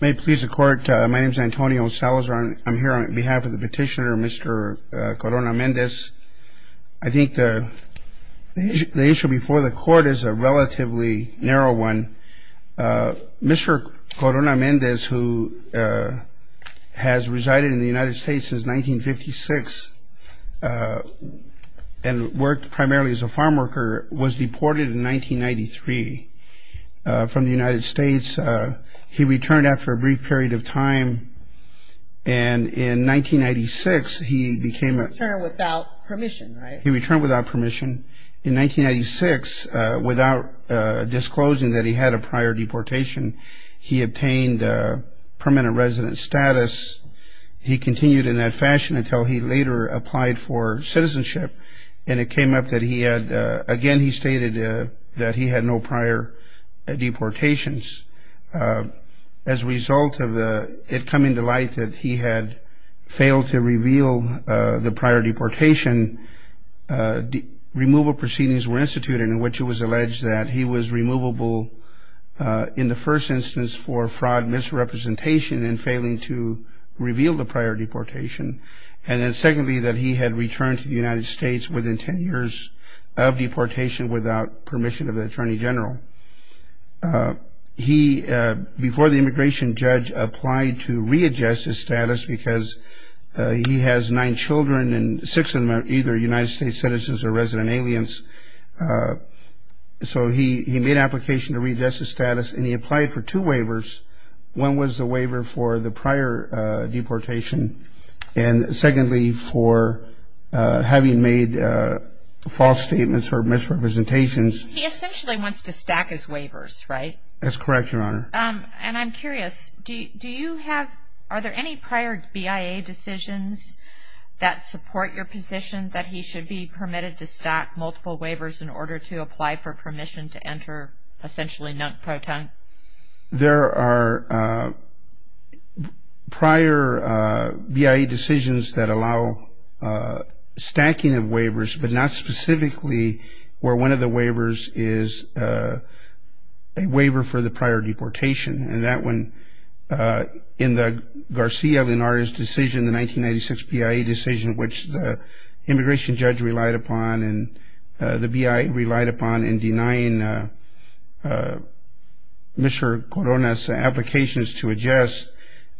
May it please the Court, my name is Antonio Salazar. I'm here on behalf of the petitioner, Mr. Corona-Mendez. I think the issue before the Court is a relatively narrow one. Mr. Corona-Mendez, who has resided in the United States since 1956 and worked primarily as a farm worker, was deported in 1993 from the United States. He returned after a brief period of time and in 1996 he became a... He returned without permission, right? He returned without permission. In 1996, without disclosing that he had a prior deportation, he obtained permanent resident status. He continued in that fashion until he later applied for citizenship and it came up that he had... Again, he stated that he had no prior deportations. As a result of it coming to light that he had failed to reveal the prior deportation, removal proceedings were instituted in which it was alleged that he was removable in the first instance for fraud, misrepresentation and failing to reveal the prior deportation. And then secondly, that he had returned to the United States within 10 years of deportation without permission of the Attorney General. He, before the immigration judge, applied to readjust his status because he has nine children and six of them are either United States citizens or resident aliens. So he made an application to readjust his status and he applied for two waivers. One was the waiver for the prior deportation and secondly for having made false statements or misrepresentations. He essentially wants to stack his waivers, right? That's correct, Your Honor. And I'm curious, do you have... that support your position that he should be permitted to stack multiple waivers in order to apply for permission to enter essentially non-protect? There are prior BIA decisions that allow stacking of waivers, but not specifically where one of the waivers is a waiver for the prior deportation. And that one, in the Garcia-Linares decision, the 1996 BIA decision, which the immigration judge relied upon and the BIA relied upon in denying Mr. Corona's applications to adjust,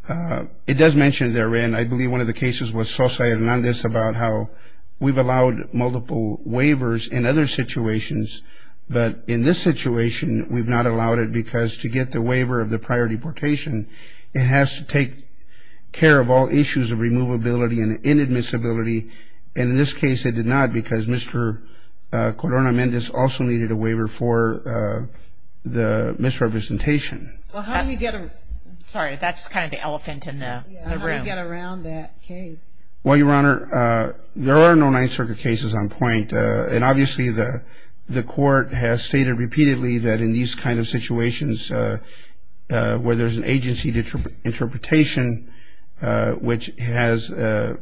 it does mention therein, I believe one of the cases was Sosa-Hernandez, about how we've allowed multiple waivers in other situations, but in this situation, we've not allowed it because to get the waiver of the prior deportation, it has to take care of all issues of removability and inadmissibility. And in this case, it did not because Mr. Corona-Mendez also needed a waiver for the misrepresentation. Well, how do you get... Sorry, that's kind of the elephant in the room. Yeah, how do you get around that case? Well, Your Honor, there are no Ninth Circuit cases on point. And obviously, the court has stated repeatedly that in these kind of situations, where there's an agency interpretation, which has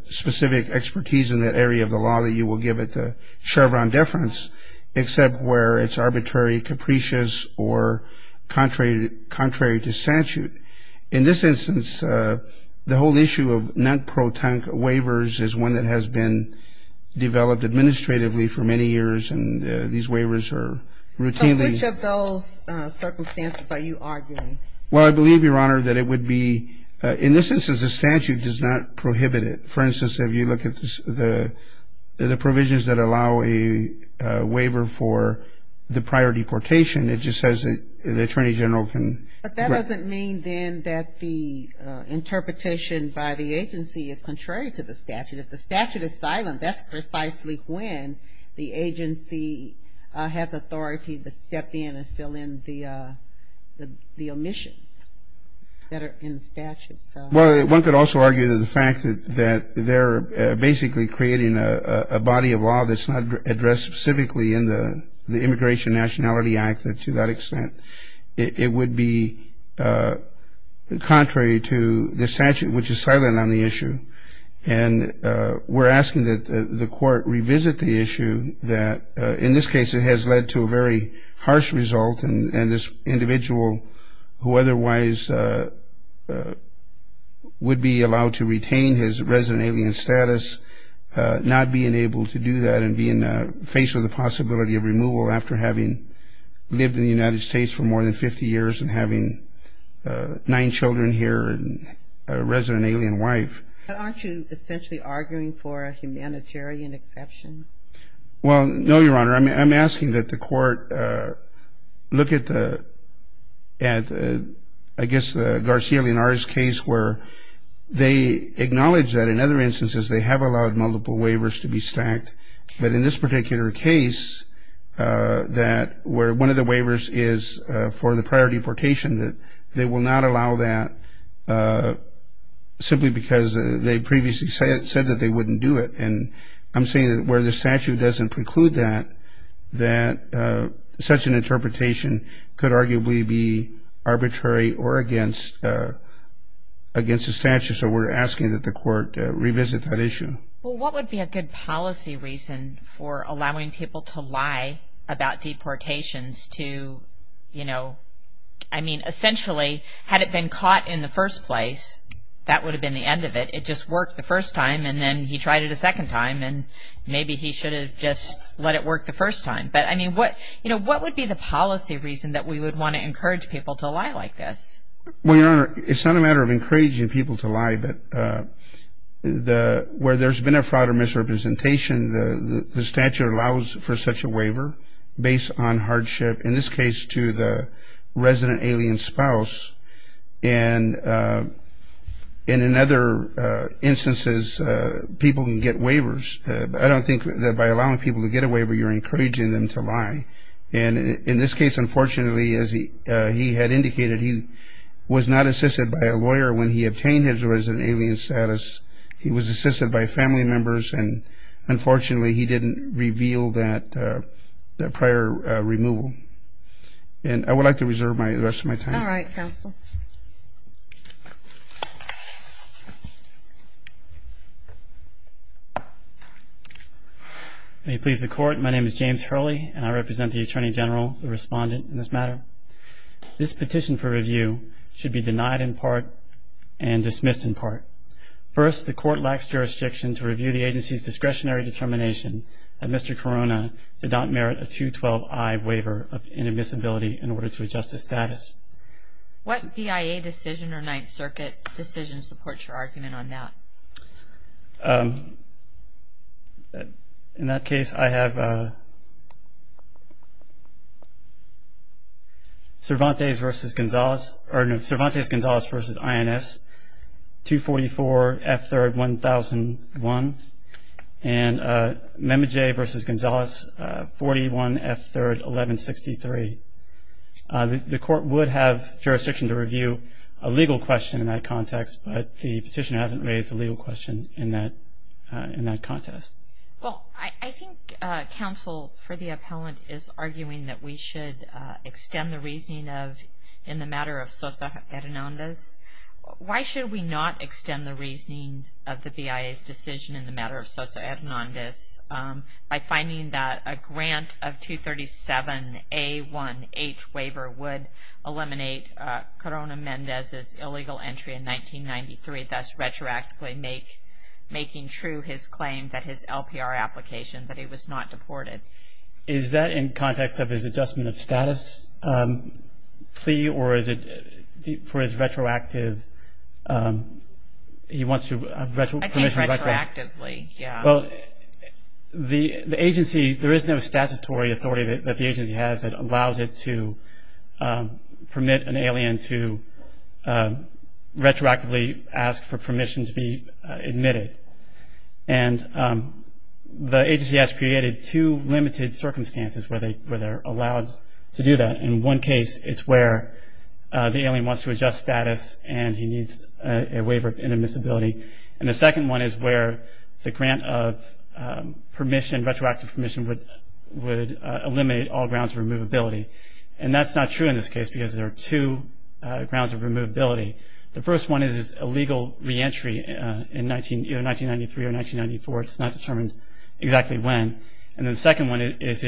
specific expertise in that area of the law that you will give it the Chevron deference, except where it's arbitrary, capricious, or contrary to statute. In this instance, the whole issue of non-pro-tank waivers is one that has been developed administratively for many years, and these waivers are routinely... So which of those circumstances are you arguing? Well, I believe, Your Honor, that it would be... In this instance, the statute does not prohibit it. For instance, if you look at the provisions that allow a waiver for the prior deportation, it just says that the Attorney General can... But that doesn't mean, then, that the interpretation by the agency is contrary to the statute. If the statute is silent, that's precisely when the agency has authority to step in and fill in the omissions that are in the statute. Well, one could also argue that the fact that they're basically creating a body of law that's not addressed specifically in the Immigration and Nationality Act to that extent, it would be contrary to the statute, which is silent on the issue. And we're asking that the court revisit the issue that, in this case, it has led to a very harsh result, and this individual who otherwise would be allowed to retain his resident alien status, not being able to do that and being faced with the possibility of removal after having lived in the United States for more than 50 years and having nine children here and a resident alien wife. But aren't you essentially arguing for a humanitarian exception? Well, no, Your Honor. I'm asking that the court look at, I guess, the Garcia Linares case, where they acknowledge that, in other instances, they have allowed multiple waivers to be stacked. But in this particular case, where one of the waivers is for the prior deportation, they will not allow that simply because they previously said that they wouldn't do it. And I'm saying that where the statute doesn't preclude that, such an interpretation could arguably be arbitrary or against the statute. So we're asking that the court revisit that issue. Well, what would be a good policy reason for allowing people to lie about deportations to, you know, I mean, essentially, had it been caught in the first place, that would have been the end of it. It just worked the first time, and then he tried it a second time, and maybe he should have just let it work the first time. But, I mean, you know, what would be the policy reason that we would want to encourage people to lie like this? Well, Your Honor, it's not a matter of encouraging people to lie, but where there's been a fraud or misrepresentation, the statute allows for such a waiver based on hardship, in this case, to the resident alien spouse. And in other instances, people can get waivers. I don't think that by allowing people to get a waiver, you're encouraging them to lie. And in this case, unfortunately, as he had indicated, he was not assisted by a lawyer when he obtained his resident alien status. He was assisted by family members, and unfortunately, he didn't reveal that prior removal. And I would like to reserve the rest of my time. All right, counsel. May it please the Court, my name is James Hurley, and I represent the Attorney General, the respondent in this matter. This petition for review should be denied in part and dismissed in part. First, the Court lacks jurisdiction to review the agency's discretionary determination that Mr. Corona did not merit a 212-I waiver of inadmissibility in order to adjust his status. What PIA decision or Ninth Circuit decision supports your argument on that? In that case, I have Cervantes v. Gonzales, or no, Cervantes-Gonzales v. INS, 244-F3-1001. And Memmejay v. Gonzales, 41-F3-1163. The Court would have jurisdiction to review a legal question in that context, but the petitioner hasn't raised a legal question in that context. Well, I think counsel for the appellant is arguing that we should extend the reasoning of, in the matter of Sosa Hernandez, why should we not extend the reasoning of the BIA's decision in the matter of Sosa Hernandez by finding that a grant of 237-A1H waiver would eliminate Corona Mendez's illegal entry in 1993, thus retroactively making true his claim that his LPR application, that he was not deported. Is that in context of his adjustment of status plea, or is it for his retroactive, he wants to retroactively? I think retroactively, yeah. Well, the agency, there is no statutory authority that the agency has that allows it to permit an alien to retroactively ask for permission to be admitted. And the agency has created two limited circumstances where they're allowed to do that. In one case, it's where the alien wants to adjust status and he needs a waiver of inadmissibility. And the second one is where the grant of permission, retroactive permission, would eliminate all grounds of removability. And that's not true in this case because there are two grounds of removability. The first one is his illegal reentry in 1993 or 1994. It's not determined exactly when. And the second one is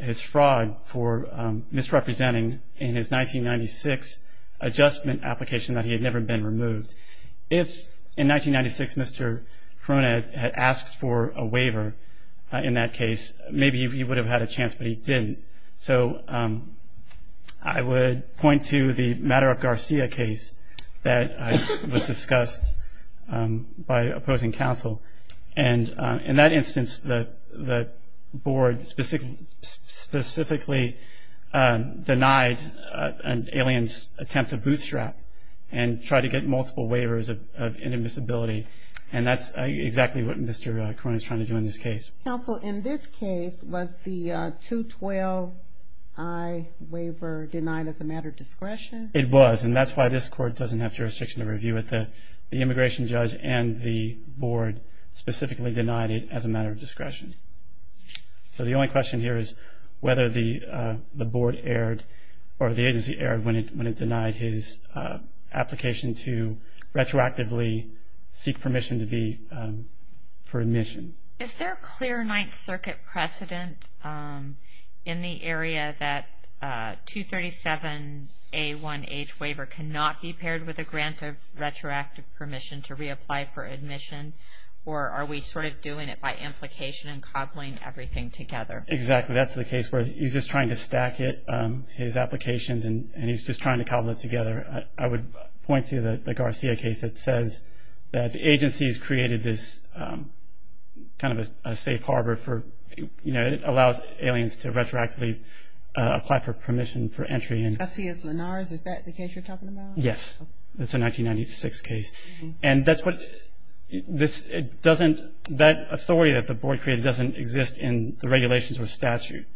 his fraud for misrepresenting in his 1996 adjustment application that he had never been removed. If in 1996 Mr. Corona had asked for a waiver in that case, maybe he would have had a chance, but he didn't. So I would point to the Maduro-Garcia case that was discussed by opposing counsel. And in that instance, the board specifically denied an alien's attempt to bootstrap and tried to get multiple waivers of inadmissibility. And that's exactly what Mr. Corona is trying to do in this case. Counsel, in this case, was the 212i waiver denied as a matter of discretion? It was, and that's why this court doesn't have jurisdiction to review it. The immigration judge and the board specifically denied it as a matter of discretion. So the only question here is whether the board erred or the agency erred when it denied his application to retroactively seek permission for admission. Is there a clear Ninth Circuit precedent in the area that 237A1H waiver cannot be paired with a grant of retroactive permission to reapply for admission, or are we sort of doing it by implication and cobbling everything together? Exactly, that's the case where he's just trying to stack his applications, and he's just trying to cobble it together. I would point to the Garcia case that says that the agency has created this kind of a safe harbor for, you know, it allows aliens to retroactively apply for permission for entry. Garcia-Lenares, is that the case you're talking about? Yes, it's a 1996 case. And that's what this doesn't, that authority that the board created doesn't exist in the regulations or statute.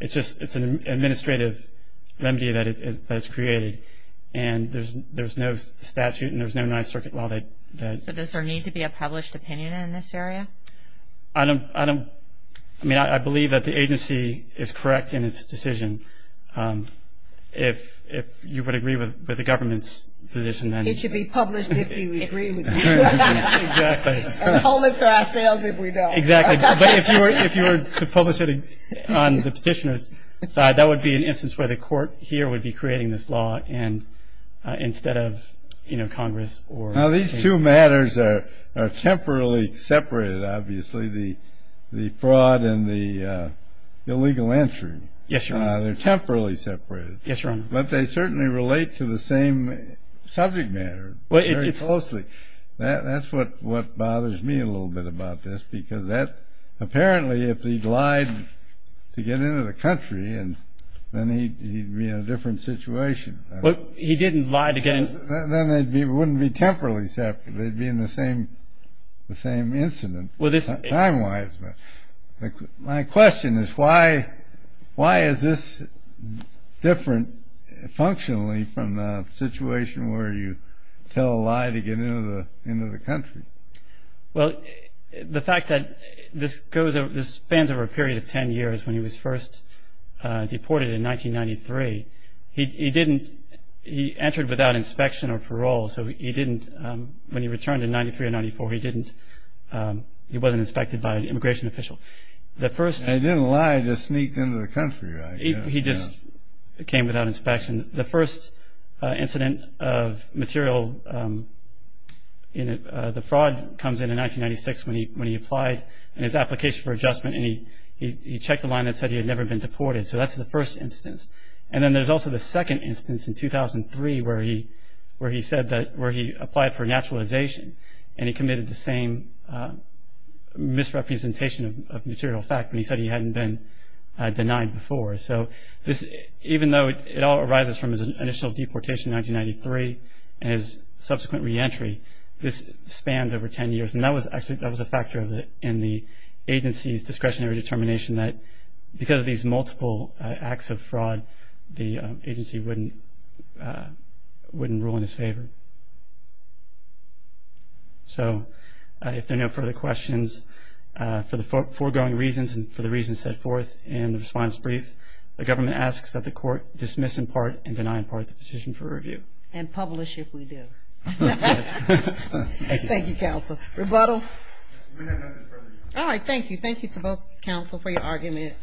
It's an administrative remedy that it has created, and there's no statute, and there's no Ninth Circuit law that... So does there need to be a published opinion in this area? I don't, I mean, I believe that the agency is correct in its decision. If you would agree with the government's position then... It should be published if you agree with me. Exactly. And hold it for ourselves if we don't. Exactly. But if you were to publish it on the petitioner's side, that would be an instance where the court here would be creating this law instead of, you know, Congress or... Now these two matters are temporarily separated, obviously, the fraud and the illegal entry. Yes, Your Honor. They're temporarily separated. Yes, Your Honor. But they certainly relate to the same subject matter very closely. That's what bothers me a little bit about this, because apparently if he'd lied to get into the country then he'd be in a different situation. But he didn't lie to get into... Then they wouldn't be temporarily separated. They'd be in the same incident time-wise. My question is why is this different, functionally, from the situation where you tell a lie to get into the country? Well, the fact that this spans over a period of ten years, when he was first deported in 1993, he entered without inspection or parole, so he didn't... And he didn't lie, he just sneaked into the country, right? He just came without inspection. The first incident of material in the fraud comes in in 1996 when he applied in his application for adjustment and he checked a line that said he had never been deported, so that's the first instance. And then there's also the second instance in 2003 where he said that... And he committed the same misrepresentation of material fact when he said he hadn't been denied before. So even though it all arises from his initial deportation in 1993 and his subsequent re-entry, this spans over ten years. And that was actually a factor in the agency's discretionary determination that because of these multiple acts of fraud, the agency wouldn't rule in his favor. So if there are no further questions, for the foregoing reasons and for the reasons set forth in the response brief, the government asks that the court dismiss in part and deny in part the petition for review. And publish if we do. Thank you, counsel. Rebuttal? All right, thank you. Thank you to both counsel for your argument.